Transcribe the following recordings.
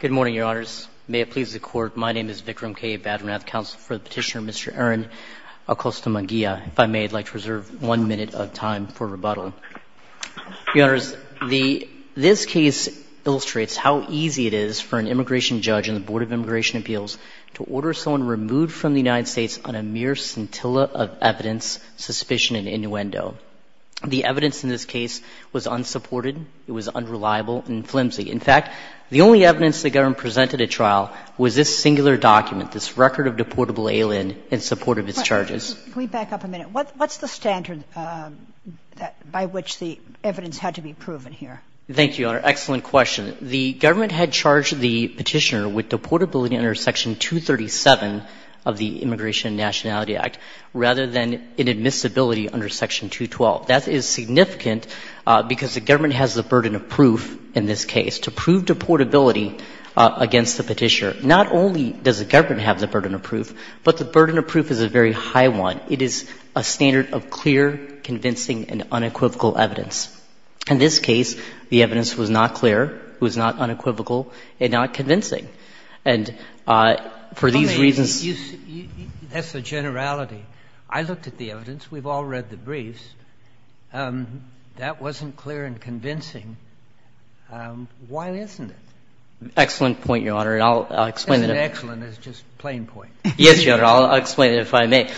Good morning, Your Honors. May it please the Court, my name is Vikram K. Badrinath, counsel for the petitioner, Mr. Aron Acosta Munguia. If I may, I'd like to reserve one minute of time for rebuttal. Your Honors, this case illustrates how easy it is for an immigration judge and the Board of Immigration Appeals to order someone removed from the United States on a mere scintilla of evidence, suspicion, and innuendo. The evidence in this case was unsupported, it was unreliable, and flimsy. In fact, the only evidence the government presented at trial was this singular document, this record of deportable alien in support of its charges. Can we back up a minute? What's the standard by which the evidence had to be proven here? Thank you, Your Honor. Excellent question. The government had charged the petitioner with deportability under Section 237 of the Immigration and Nationality Act rather than inadmissibility under Section 212. That is significant because the government has the burden of proof in this case to prove deportability against the petitioner. Not only does the government have the burden of proof, but the burden of proof is a very high one. It is a standard of clear, convincing, and unequivocal evidence. In this case, the evidence was not clear, was not unequivocal, and not convincing. And for these reasons you see, that's the generality. I looked at the evidence. We've all read the briefs. That wasn't clear and convincing. Why isn't it? Excellent point, Your Honor, and I'll explain it. Isn't excellent just a plain point? Yes, Your Honor. I'll explain it if I may.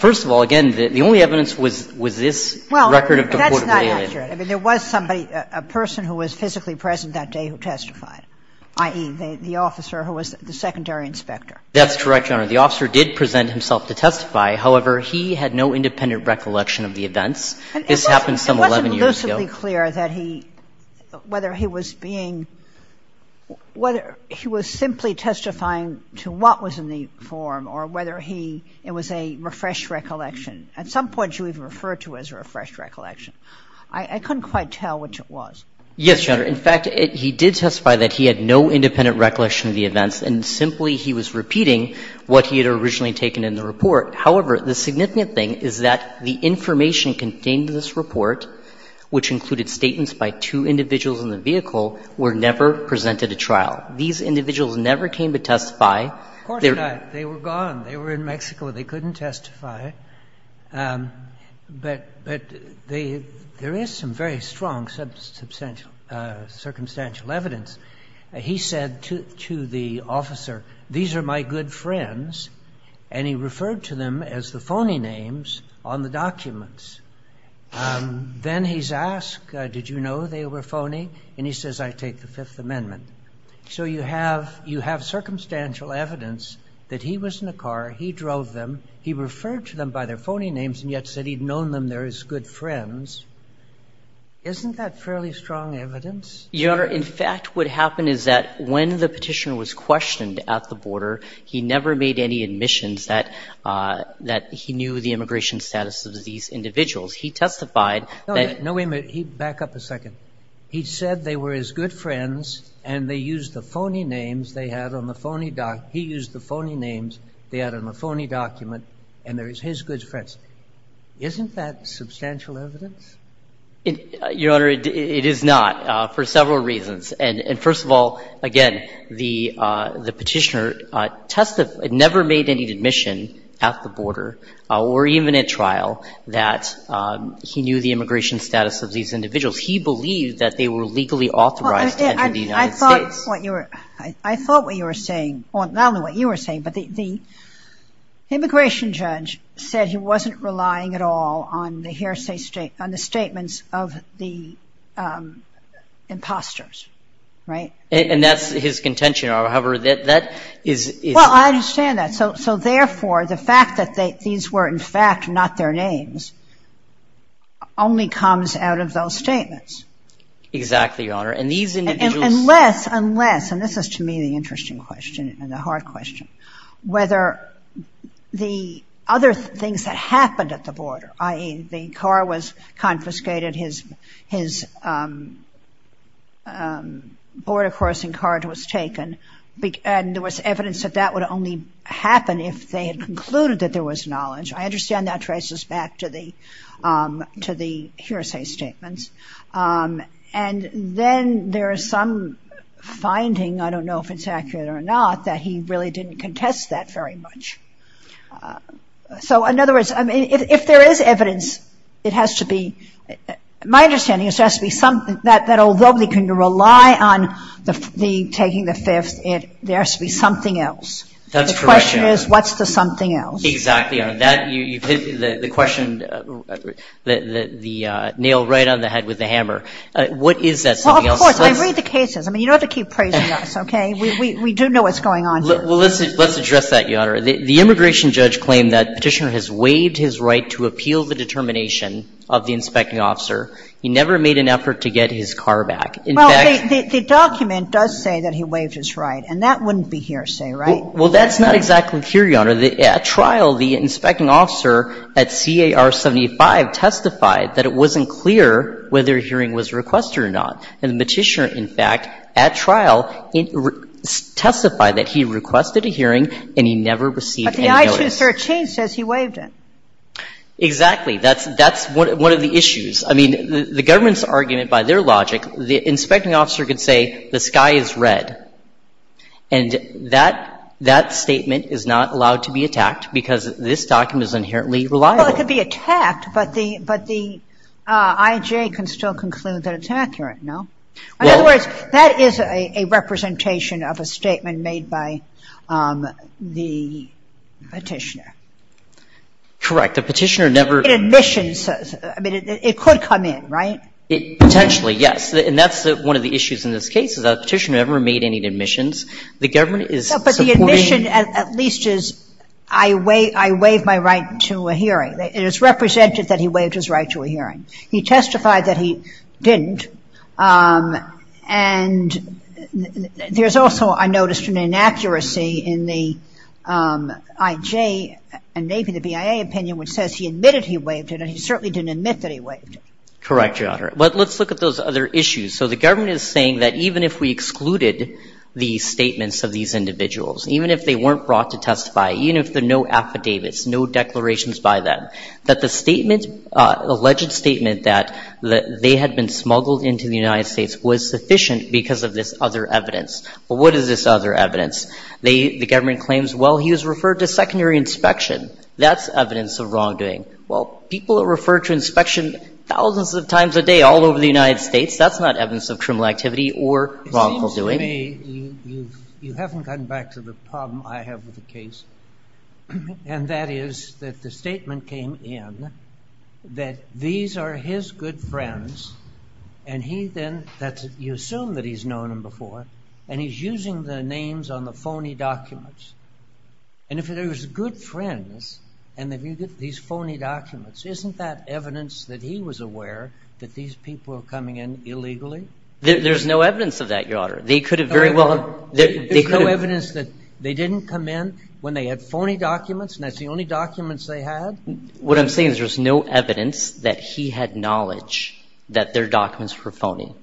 First of all, again, the only evidence was this record of deportability. Well, that's not accurate. I mean, there was somebody, a person who was physically present that day who testified, i.e., the officer who was the secondary inspector. That's correct, Your Honor. The officer did present himself to testify. However, he had no independent recollection of the events. This happened some 11 years ago. It wasn't lucidly clear that he, whether he was being, whether he was simply testifying to what was in the form or whether he, it was a refreshed recollection. At some point you even referred to it as a refreshed recollection. I couldn't quite tell which it was. Yes, Your Honor. In fact, he did testify that he had no independent recollection of the events, and simply he was repeating what he had originally taken in the report. However, the significant thing is that the information contained in this report, which included statements by two individuals in the vehicle, were never presented at trial. These individuals never came to testify. Of course not. They were gone. They were in Mexico. They couldn't testify. But there is some very strong circumstantial evidence. He said to the officer, these are my good friends, and he referred to them as the phony names on the documents. Then he's asked, did you know they were phony? And he says, I take the Fifth Amendment. So you have circumstantial evidence that he was in a car, he drove them, he referred to them by their phony names, and yet said he'd known them there as good friends. Isn't that fairly strong evidence? Your Honor, in fact, what happened is that when the Petitioner was questioned at the border, he never made any admissions that he knew the immigration status of these individuals. He testified that he used the phony names they had on the phony document, and they were his good friends. Isn't that substantial evidence? Your Honor, it is not. For several reasons. And first of all, again, the Petitioner testified, never made any admission at the border, or even at trial, that he knew the immigration status of these individuals. He believed that they were legally authorized to enter the United States. I thought what you were saying, not only what you were saying, but the immigration judge said he wasn't relying at all on the statements of the impostors. Right? And that's his contention, however, that is... Well, I understand that. So therefore, the fact that these were, in fact, not their names, only comes out of those statements. Exactly, Your Honor. And these individuals... Unless, unless, and this is to me the interesting question, and the hard question, whether the other things that happened at the border, i.e. the car was confiscated, his border crossing card was taken, and there was evidence that that would only happen if they had concluded that there was knowledge. I understand that traces back to the hearsay statements. And then there is some finding, I don't know if it's accurate or not, that he really didn't contest that very much. So, in other words, I mean, if there is evidence, it has to be, my understanding is there has to be something that although they can rely on the taking the fifth, there has to be something else. That's correct, Your Honor. The question is, what's the something else? Exactly, Your Honor. That, you've hit the question, the nail right on the head with the hammer. What is that something else? Well, of course, I read the cases. I mean, you don't have to keep praising us, okay? We do know what's going on here. Well, let's address that, Your Honor. The immigration judge claimed that Petitioner has waived his right to appeal the determination of the inspecting officer. He never made an effort to get his car back. Well, the document does say that he waived his right, and that wouldn't be hearsay, right? Well, that's not exactly clear, Your Honor. At trial, the inspecting officer at CAR 75 testified that it wasn't clear whether a hearing was requested or not. And the petitioner, in fact, at trial, testified that he requested a hearing and he never received any notice. But the I-213 says he waived it. Exactly. That's one of the issues. I mean, the government's argument, by their logic, the inspecting officer could say, the sky is red, and that statement is not allowed to be attacked because this document is inherently reliable. Well, it could be attacked, but the IJ can still conclude that it's accurate, no? In other words, that is a representation of a statement made by the petitioner. Correct. The petitioner never Admissions. I mean, it could come in, right? Potentially, yes. And that's one of the issues in this case, is the petitioner never made any admissions. The government is But the admission, at least, is I waived my right to a hearing. It is represented that he waived his right to a hearing. He testified that he didn't, and there's also, I noticed, an inaccuracy in the IJ and maybe the BIA opinion, which says he admitted he waived it, and he certainly didn't admit that he waived it. Correct, Your Honor. But let's look at those other issues. So the government is saying that even if we excluded the statements of these individuals, even if they weren't brought to testify, even if there are no statement that they had been smuggled into the United States was sufficient because of this other evidence. Well, what is this other evidence? The government claims, well, he was referred to secondary inspection. That's evidence of wrongdoing. Well, people are referred to inspection thousands of times a day all over the United States. That's not evidence of criminal activity or wrongful doing. It seems to me you haven't gotten back to the problem I have with the case, and that is that the statement came in that these are his good friends, and he then, that's, you assume that he's known them before, and he's using the names on the phony documents. And if there's good friends, and if you get these phony documents, isn't that evidence that he was aware that these people were coming in illegally? There's no evidence of that, Your Honor. They could have very well... There's no evidence that they didn't come in when they had phony documents, and that's the only documents they had? What I'm saying is there's no evidence that he had knowledge that their documents were phony.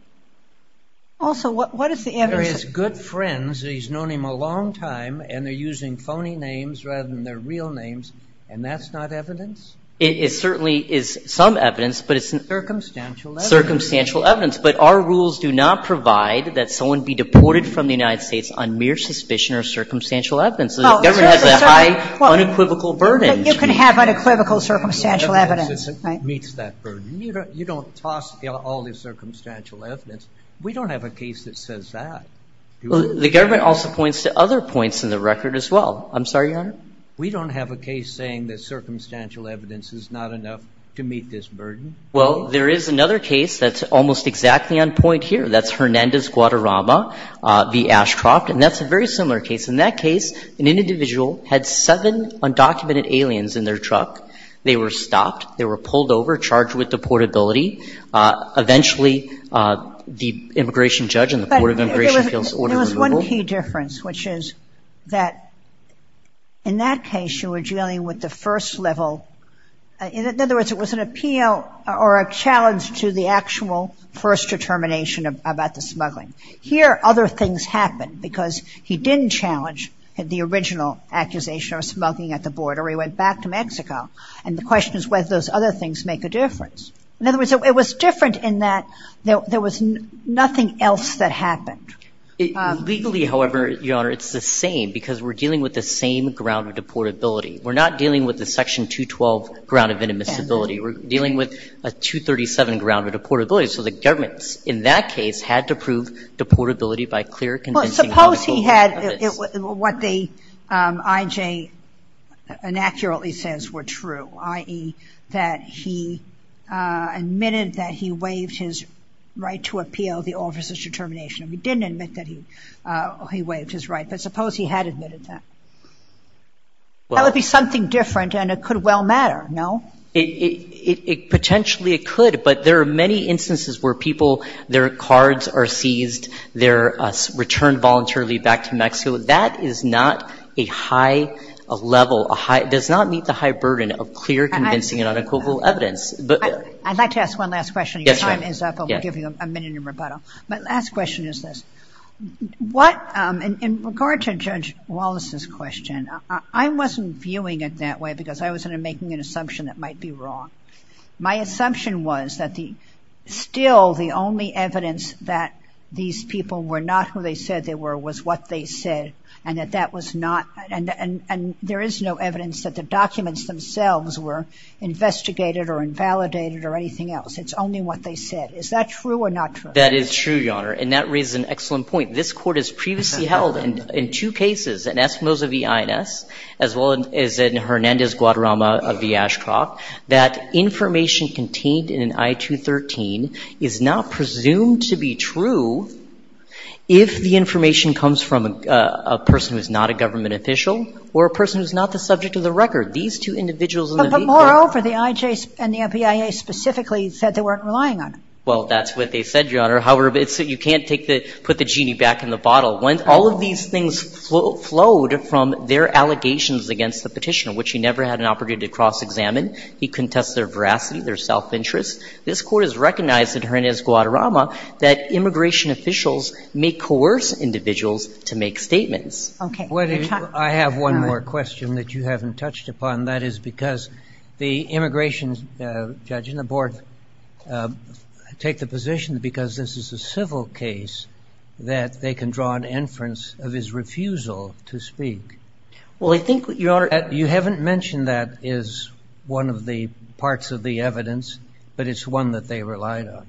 Also, what is the evidence... They're his good friends, he's known him a long time, and they're using phony names rather than their real names, and that's not evidence? It certainly is some evidence, but it's... Circumstantial evidence. Circumstantial evidence. But our rules do not provide that someone be deported from the United States on mere suspicion or circumstantial evidence. So the government has a high unequivocal burden. But you can have unequivocal circumstantial evidence, right? ...meets that burden. You don't toss all this circumstantial evidence. We don't have a case that says that. The government also points to other points in the record as well. I'm sorry, Your Honor? We don't have a case saying that circumstantial evidence is not enough to meet this burden. Well, there is another case that's almost exactly on point here. That's Hernandez-Guadarrama v. Ashcroft, and that's a very similar case. In that case, an individual had seven undocumented aliens in their truck. They were stopped. They were pulled over, charged with deportability. Eventually, the immigration judge and the Court of Immigration feels order removal. But there was one key difference, which is that in that case, you were dealing with the first level. In other words, it was an appeal or a challenge to the actual first determination about the smuggling. Here, other things happened because he didn't challenge the original accusation of smuggling at the border. He went back to Mexico, and the question is whether those other things make a difference. In other words, it was different in that there was nothing else that happened. Legally, however, Your Honor, it's the same because we're dealing with the same ground of deportability. We're not dealing with the Section 212 ground of inadmissibility. We're dealing with a 237 ground of deportability. So the government, in that case, had to prove deportability by clear, convincing medical evidence. Well, suppose he had what the IJ inaccurately says were true, i.e. that he admitted that he waived his right to appeal the officer's determination. He didn't admit that he waived his right, but suppose he had admitted that. That would be something different, and it could well matter, no? Potentially, it could, but there are many instances where people, their cards are seized, they're returned voluntarily back to Mexico. That is not a high level, does not meet the high burden of clear, convincing, and unequivocal evidence. I'd like to ask one last question. Your time is up, but we'll give you a minute in rebuttal. My last question is this. What, in regard to Judge Wallace's question, I wasn't viewing it that way because I was making an assumption that might be wrong. My assumption was that the, still the only evidence that these people were not who they said they were was what they said, and that that was not, and there is no evidence that the documents themselves were investigated or invalidated or anything else. It's only what they said. Is that true or not true? That is true, Your Honor, and that raises an excellent point. This court has previously held in two cases, in Esmose v. Guadarrama v. Ashcroft, that information contained in an I-213 is not presumed to be true if the information comes from a person who is not a government official or a person who is not the subject of the record. These two individuals in the victim. But moreover, the IJ and the NBIA specifically said they weren't relying on it. Well, that's what they said, Your Honor. However, you can't take the, put the genie back in the bottle. When all of these things flowed from their allegations against the Petitioner, which he never had an opportunity to cross-examine, he contests their veracity, their self-interest. This Court has recognized in Hernandez v. Guadarrama that immigration officials may coerce individuals to make statements. Okay. I have one more question that you haven't touched upon, and that is because the immigration judge and the board take the position that because this is a civil case that they can draw an inference of his refusal to speak. Well, I think, Your Honor. You haven't mentioned that as one of the parts of the evidence, but it's one that they relied on.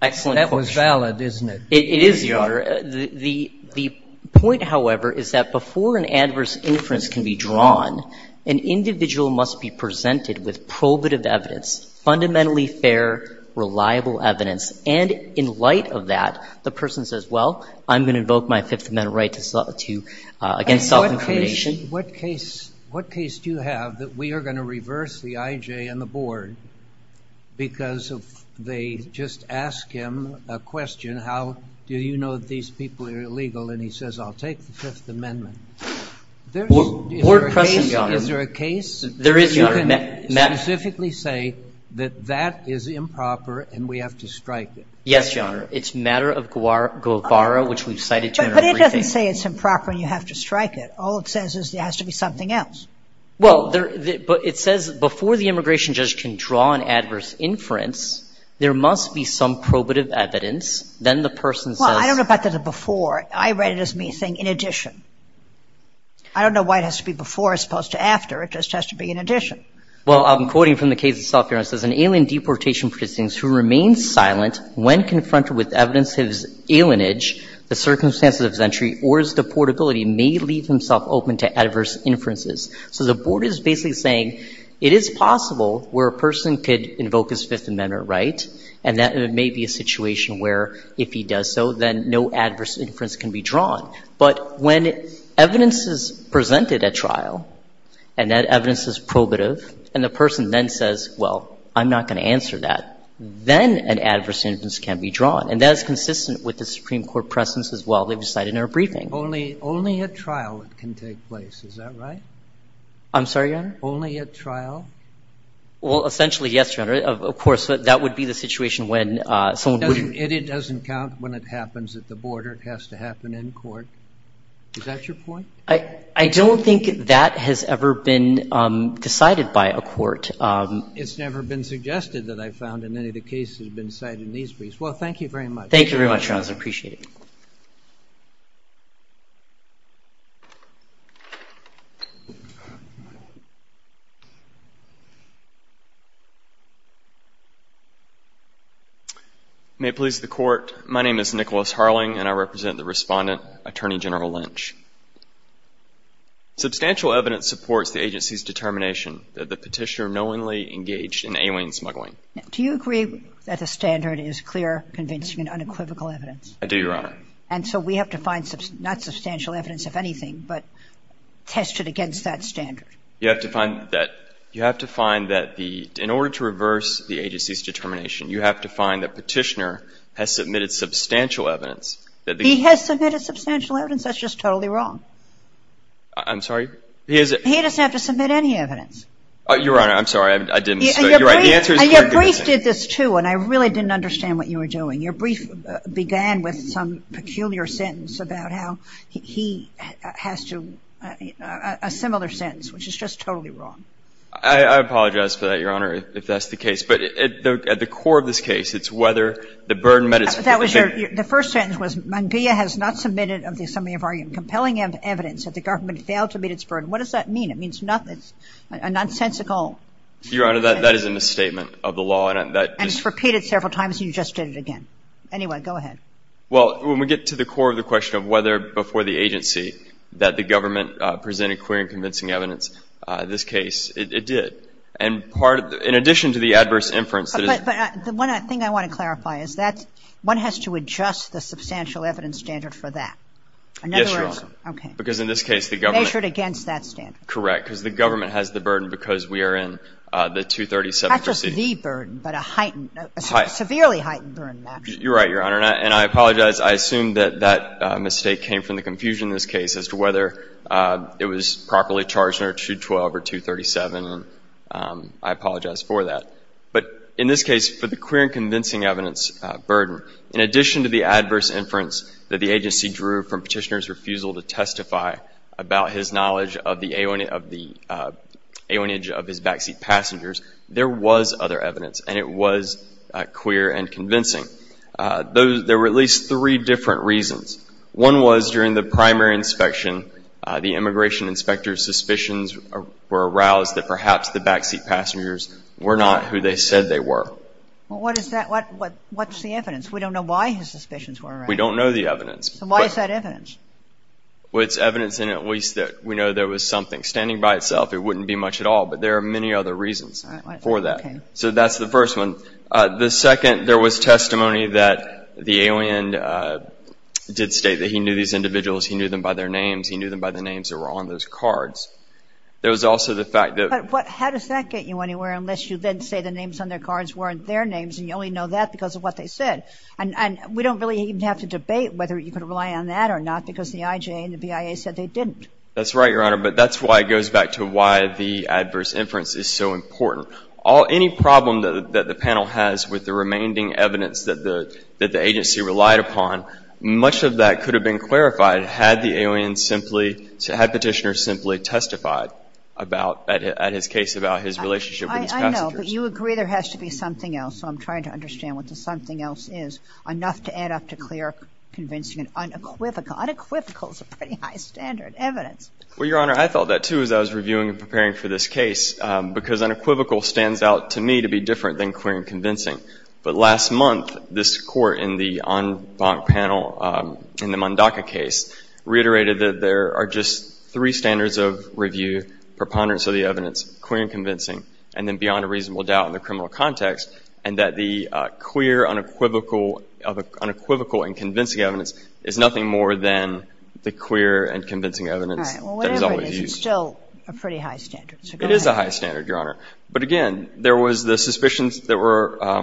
Excellent question. That was valid, isn't it? It is, Your Honor. The point, however, is that before an adverse inference can be drawn, an individual must be presented with probative evidence, fundamentally fair, reliable evidence. And in light of that, the person says, well, I'm going to invoke my Fifth Amendment right to, again, self-incrimination. What case do you have that we are going to reverse the IJ and the board because if they just ask him a question, how do you know that these people are illegal? And he says, I'll take the Fifth Amendment. Board question, Your Honor. Is there a case that you can specifically say that that is improper and we have to strike it? Yes, Your Honor. It's a matter of Guevara, which we've cited to in our briefing. But it doesn't say it's improper and you have to strike it. All it says is there has to be something else. Well, but it says before the immigration judge can draw an adverse inference, there must be some probative evidence. Then the person says- Well, I don't know about the before. I read it as me saying, in addition. I don't know why it has to be before as opposed to after. It just has to be in addition. Well, I'm quoting from the case itself, Your Honor. It says, an alien deportation person who remains silent when confronted with evidence of his alienage, the circumstances of his entry, or his deportability may leave himself open to adverse inferences. So the Board is basically saying it is possible where a person could invoke his Fifth Amendment right, and that may be a situation where if he does so, then no adverse inference can be drawn. But when evidence is presented at trial, and that evidence is probative, and the person then says, well, I'm not going to answer that, then an adverse inference can be drawn. And that is consistent with the Supreme Court precedence as well. They've cited in our briefing. Only at trial it can take place. Is that right? I'm sorry, Your Honor? Only at trial? Well, essentially, yes, Your Honor. Of course, that would be the situation when someone would It doesn't count when it happens at the border. It has to happen in court. Is that your point? I don't think that has ever been decided by a court. It's never been suggested that I found in any of the cases that have been cited in these briefs. Well, thank you very much. Thank you very much, Your Honor. I appreciate it. May it please the Court, my name is Nicholas Harling, and I represent the respondent, Attorney General Lynch. Substantial evidence supports the agency's determination that the petitioner knowingly engaged in alien smuggling. Do you agree that the standard is clear, convincing, and unequivocal evidence? I do, Your Honor. And so we have to find not substantial evidence, if anything, but test it against that standard. You have to find that in order to reverse the agency's determination, you have to find that petitioner has submitted substantial evidence. He has submitted substantial evidence. That's just totally wrong. I'm sorry? He doesn't have to submit any evidence. Your Honor, I'm sorry. I didn't, you're right, the answer is clear, convincing. And your brief did this, too, and I really didn't understand what you were doing. Your brief began with some peculiar sentence about how he has to, a similar sentence, which is just totally wrong. I apologize for that, Your Honor, if that's the case. But at the core of this case, it's whether the burden met its full effect. The first sentence was, Manguia has not submitted of the assembly of argument compelling evidence that the government failed to meet its burden. What does that mean? It means nothing. It's a nonsensical sentence. Your Honor, that is a misstatement of the law. I just repeated it several times. You just did it again. Anyway, go ahead. Well, when we get to the core of the question of whether before the agency that the government presented clear and convincing evidence, this case, it did. And in addition to the adverse inference that is. But the one thing I want to clarify is that one has to adjust the substantial evidence standard for that. Yes, Your Honor. Because in this case, the government. Measured against that standard. Correct. Because the government has the burden because we are in the 237 proceeding. The burden, but a heightened, a severely heightened burden. You're right, Your Honor. And I apologize. I assume that that mistake came from the confusion in this case as to whether it was properly charged under 212 or 237. And I apologize for that. But in this case, for the clear and convincing evidence burden, in addition to the adverse inference that the agency drew from Petitioner's refusal to testify about his knowledge of the awning of the awnage of his backseat passengers, there was other evidence. And it was clear and convincing. There were at least three different reasons. One was during the primary inspection, the immigration inspector's suspicions were aroused that perhaps the backseat passengers were not who they said they were. Well, what is that? What's the evidence? We don't know why his suspicions were aroused. We don't know the evidence. So why is that evidence? Well, it's evidence in at least that we know there was something. Standing by itself, it wouldn't be much at all. But there are many other reasons for that. So that's the first one. The second, there was testimony that the alien did state that he knew these individuals. He knew them by their names. He knew them by the names that were on those cards. There was also the fact that- But how does that get you anywhere, unless you then say the names on their cards weren't their names, and you only know that because of what they said? And we don't really even have to debate whether you could rely on that or not, because the IJA and the BIA said they didn't. That's right, Your Honor. But that's why it goes back to why the adverse inference is so important. Any problem that the panel has with the remaining evidence that the agency relied upon, much of that could have been clarified had the alien simply, had Petitioner simply testified about, at his case, about his relationship with his passengers. I know, but you agree there has to be something else. So I'm trying to understand what the something else is, enough to add up to clear, convincing, and unequivocal. Unequivocal is a pretty high standard evidence. Well, Your Honor, I felt that too as I was reviewing and preparing for this case, because unequivocal stands out to me to be different than clear and convincing. But last month, this court in the en banc panel, in the Mondaca case, reiterated that there are just three standards of review, preponderance of the evidence, clear and convincing, and then beyond a reasonable doubt in the criminal context, and that the clear, unequivocal, and convincing evidence is nothing more than the clear and convincing evidence that is always used. Well, whatever it is, it's still a pretty high standard. It is a high standard, Your Honor. But again, there was the suspicions that were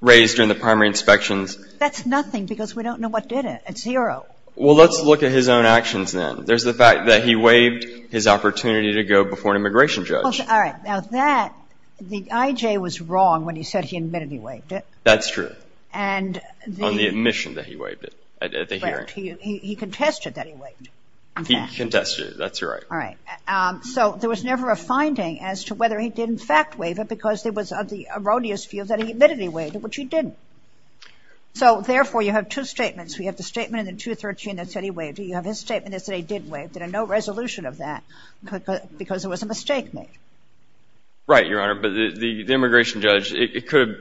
raised during the primary inspections. That's nothing, because we don't know what did it. It's zero. Well, let's look at his own actions then. There's the fact that he waived his opportunity to go before an immigration judge. All right. Now, that, the I.J. was wrong when he said he admitted he waived it. That's true. And the On the admission that he waived it. He contested that he waived it. He contested it. That's right. All right. So there was never a finding as to whether he did in fact waive it, because it was of the erroneous view that he admitted he waived it, which he didn't. So therefore, you have two statements. We have the statement in the 213 that said he waived it. You have his statement that said he did waive it, and no resolution of that, because it was a mistake made. Right, Your Honor. But the immigration judge, it could have,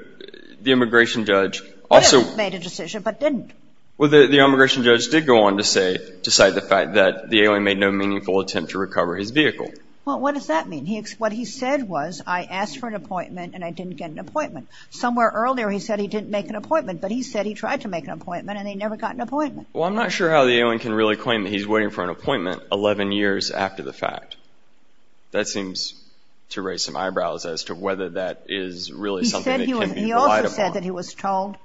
the immigration judge also Could have made a decision but didn't. Well, the immigration judge did go on to say, to cite the fact that the alien made no meaningful attempt to recover his vehicle. Well, what does that mean? What he said was, I asked for an appointment and I didn't get an appointment. Somewhere earlier he said he didn't make an appointment, but he said he tried to make an appointment and he never got an appointment. Well, I'm not sure how the alien can really claim that he's waiting for an appointment 11 years after the fact. that can be relied upon. He also said that he was told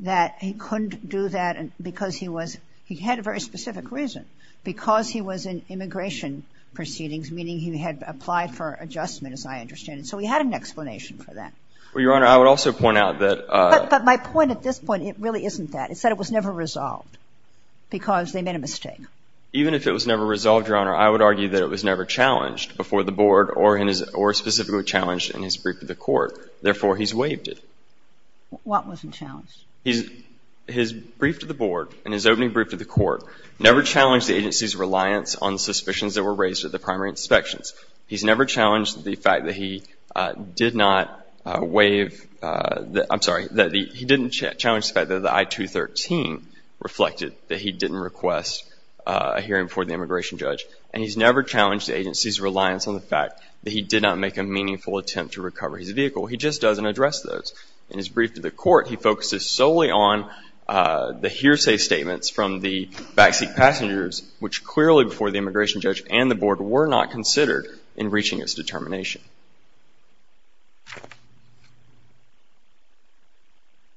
that he couldn't do that because he was, he had a very specific reason, because he was in immigration proceedings, meaning he had applied for adjustment, as I understand it. So he had an explanation for that. Well, Your Honor, I would also point out that But my point at this point, it really isn't that. It said it was never resolved because they made a mistake. Even if it was never resolved, Your Honor, I would argue that it was never challenged before the board or specifically challenged in his brief to the court. Therefore, he's waived it. What wasn't challenged? He's, his brief to the board and his opening brief to the court never challenged the agency's reliance on suspicions that were raised at the primary inspections. He's never challenged the fact that he did not waive, I'm sorry, that he didn't challenge the fact that the I-213 reflected that he didn't request a hearing before the immigration judge. And he's never challenged the agency's reliance on the fact that he did not make a meaningful attempt to recover his vehicle. He just doesn't address those. In his brief to the court, he focuses solely on the hearsay statements from the backseat passengers, which clearly, before the immigration judge and the board, were not considered in reaching its determination.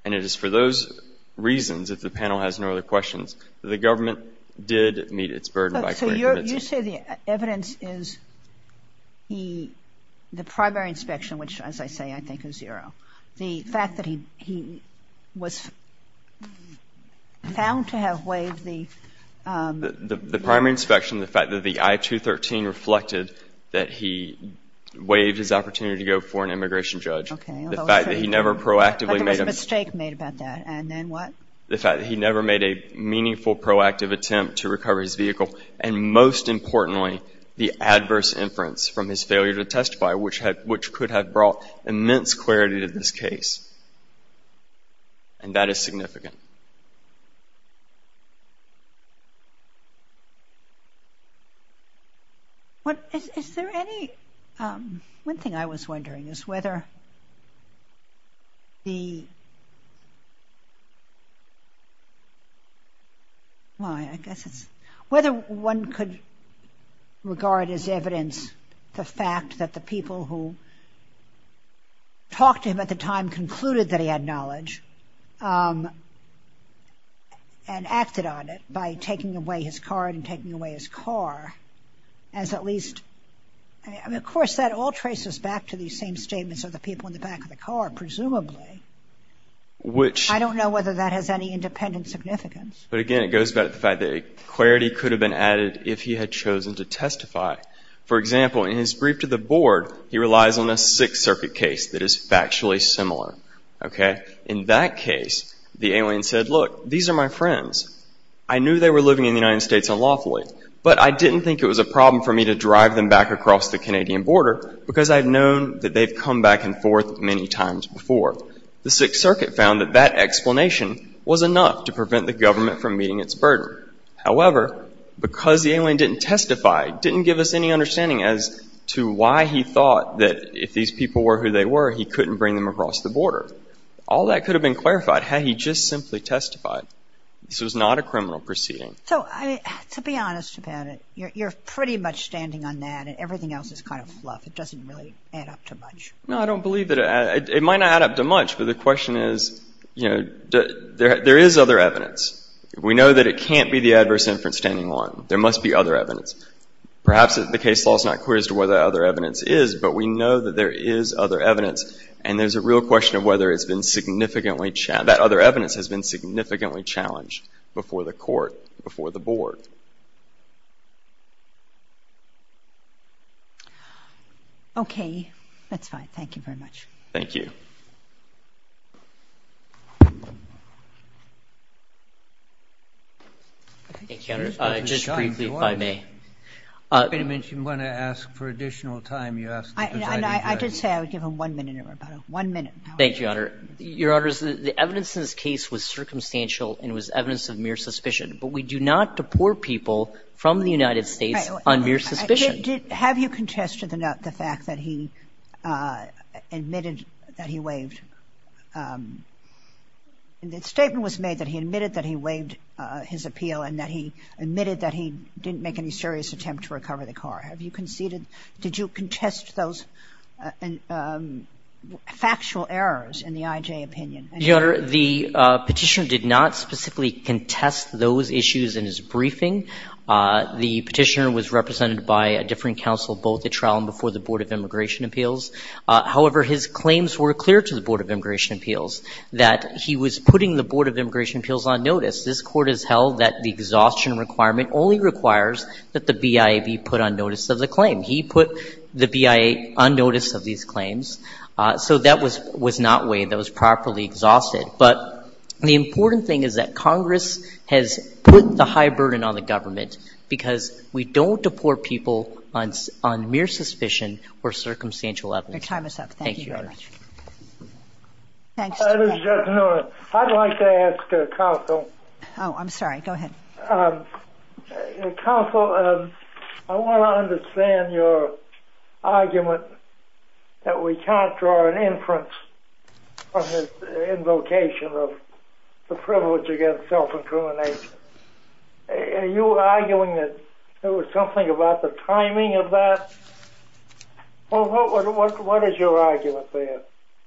And it is for those reasons, if the panel has no other questions, that the government did meet its burden by query commencing. So you say the evidence is the primary inspection, which, as I say, I think is zero. The fact that he was found to have waived the The primary inspection, the fact that the I-213 reflected that he waived his opportunity to go before an immigration judge, the fact that he never proactively made a But there was a mistake made about that, and then what? The fact that he never made a meaningful, proactive attempt to recover his vehicle, and most importantly, the adverse inference from his failure to evidence-query to this case, and that is significant. What, is, is there any one thing I was wondering is whether the Why, I guess it's, whether one could regard as evidence the fact that the people who talked to him at the time concluded that he had knowledge and acted on it by taking away his card and taking away his car, as at least, I mean, of course, that all traces back to the same statements of the people in the back of the car, presumably. Which I don't know whether that has any independent significance. But again, it goes back to the fact that clarity could have been added if he had chosen to testify. For example, in his brief to the board, he relies on a Sixth Circuit case that is factually similar, okay? In that case, the alien said, look, these are my friends. I knew they were living in the United States unlawfully, but I didn't think it was a problem for me to drive them back across the Canadian border because I've known that they've come back and forth many times before. The Sixth Circuit found that that explanation was enough to prevent the government from meeting its burden. However, because the alien didn't testify, didn't give us any understanding as to why he thought that if these people were who they were, he couldn't bring them across the border. All that could have been clarified had he just simply testified. This was not a criminal proceeding. So, to be honest about it, you're pretty much standing on that and everything else is kind of fluff. It doesn't really add up to much. No, I don't believe that it might not add up to much, but the question is, you know, there is other evidence. We know that it can't be the adverse inference standing on. There must be other evidence. Perhaps the case law is not clear as to whether other evidence is, but we know that there is other evidence and there's a real question of whether it's been significantly, that other evidence has been significantly challenged before the court, before the board. Okay, that's fine. Thank you very much. Thank you. Thank you, Your Honor. Just briefly, if I may. I think you mentioned you want to ask for additional time. I did say I would give him one minute. One minute. Thank you, Your Honor. Your Honor, the evidence in this case was circumstantial and was evidence of mere suspicion, but we do not deport people from the United States on mere suspicion. Have you contested the fact that he admitted that he waived? The statement was made that he admitted that he waived his appeal and that he admitted that he didn't make any serious attempt to recover the car. Have you conceded? Did you contest those factual errors in the IJ opinion? Your Honor, the Petitioner did not specifically contest those issues in his briefing. The Petitioner was represented by a different counsel both at trial and before the Board of Immigration Appeals. However, his claims were clear to the Board of Immigration Appeals that he was putting the Board of Immigration Appeals on notice. This Court has held that the exhaustion requirement only requires that the BIA be put on notice of the claim. He put the BIA on notice of these claims, so that was not waived. That was properly exhausted. But the important thing is that Congress has put the high burden on the government because we don't deport people on mere suspicion or circumstantial evidence. Your time is up. Thank you, Your Honor. I'd like to ask counsel. Oh, I'm sorry. Go ahead. Counsel, I want to understand your argument that we can't draw an inference from his invocation of the privilege against self-incrimination. Are you arguing that there was something about the timing of that? What is your argument there?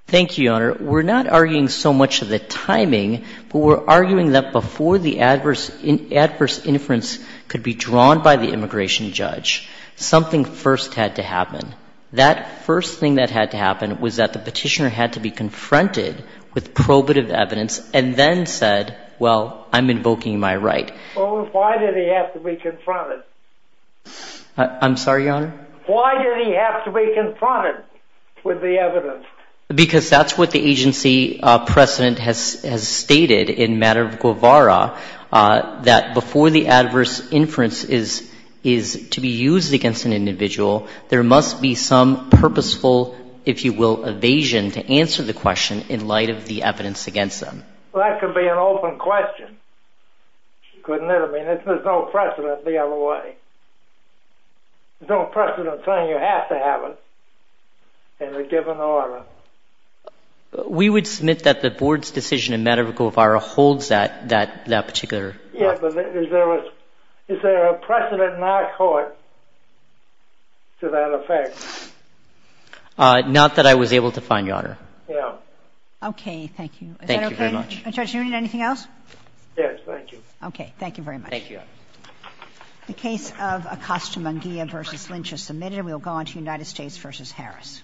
Thank you, Your Honor. We're not arguing so much of the timing, but we're arguing that before the adverse inference could be drawn by the immigration judge, something first had to happen. That first thing that had to happen was that the Petitioner had to be confronted with probative evidence and then said, well, I'm invoking my right. Well, why did he have to be confronted? I'm sorry, Your Honor? Why did he have to be confronted with the evidence? Because that's what the agency precedent has stated in matter of Guevara, that before the adverse inference is to be used against an individual, there must be some purposeful, if you will, evasion to answer the question in light of the evidence against them. Well, that could be an open question. Couldn't it have been? There's no precedent the other way. There's no precedent saying you have to have it in a given order. We would submit that the Board's decision in matter of Guevara holds that particular... Is there a precedent in our court to that effect? Not that I was able to find, Your Honor. Okay, thank you. Thank you very much. Judge, do you need anything else? Yes, thank you. Okay, thank you very much. Thank you, Your Honor. The case of Acosta-Munguia v. Lynch is submitted. We will go on to United States v. Harris.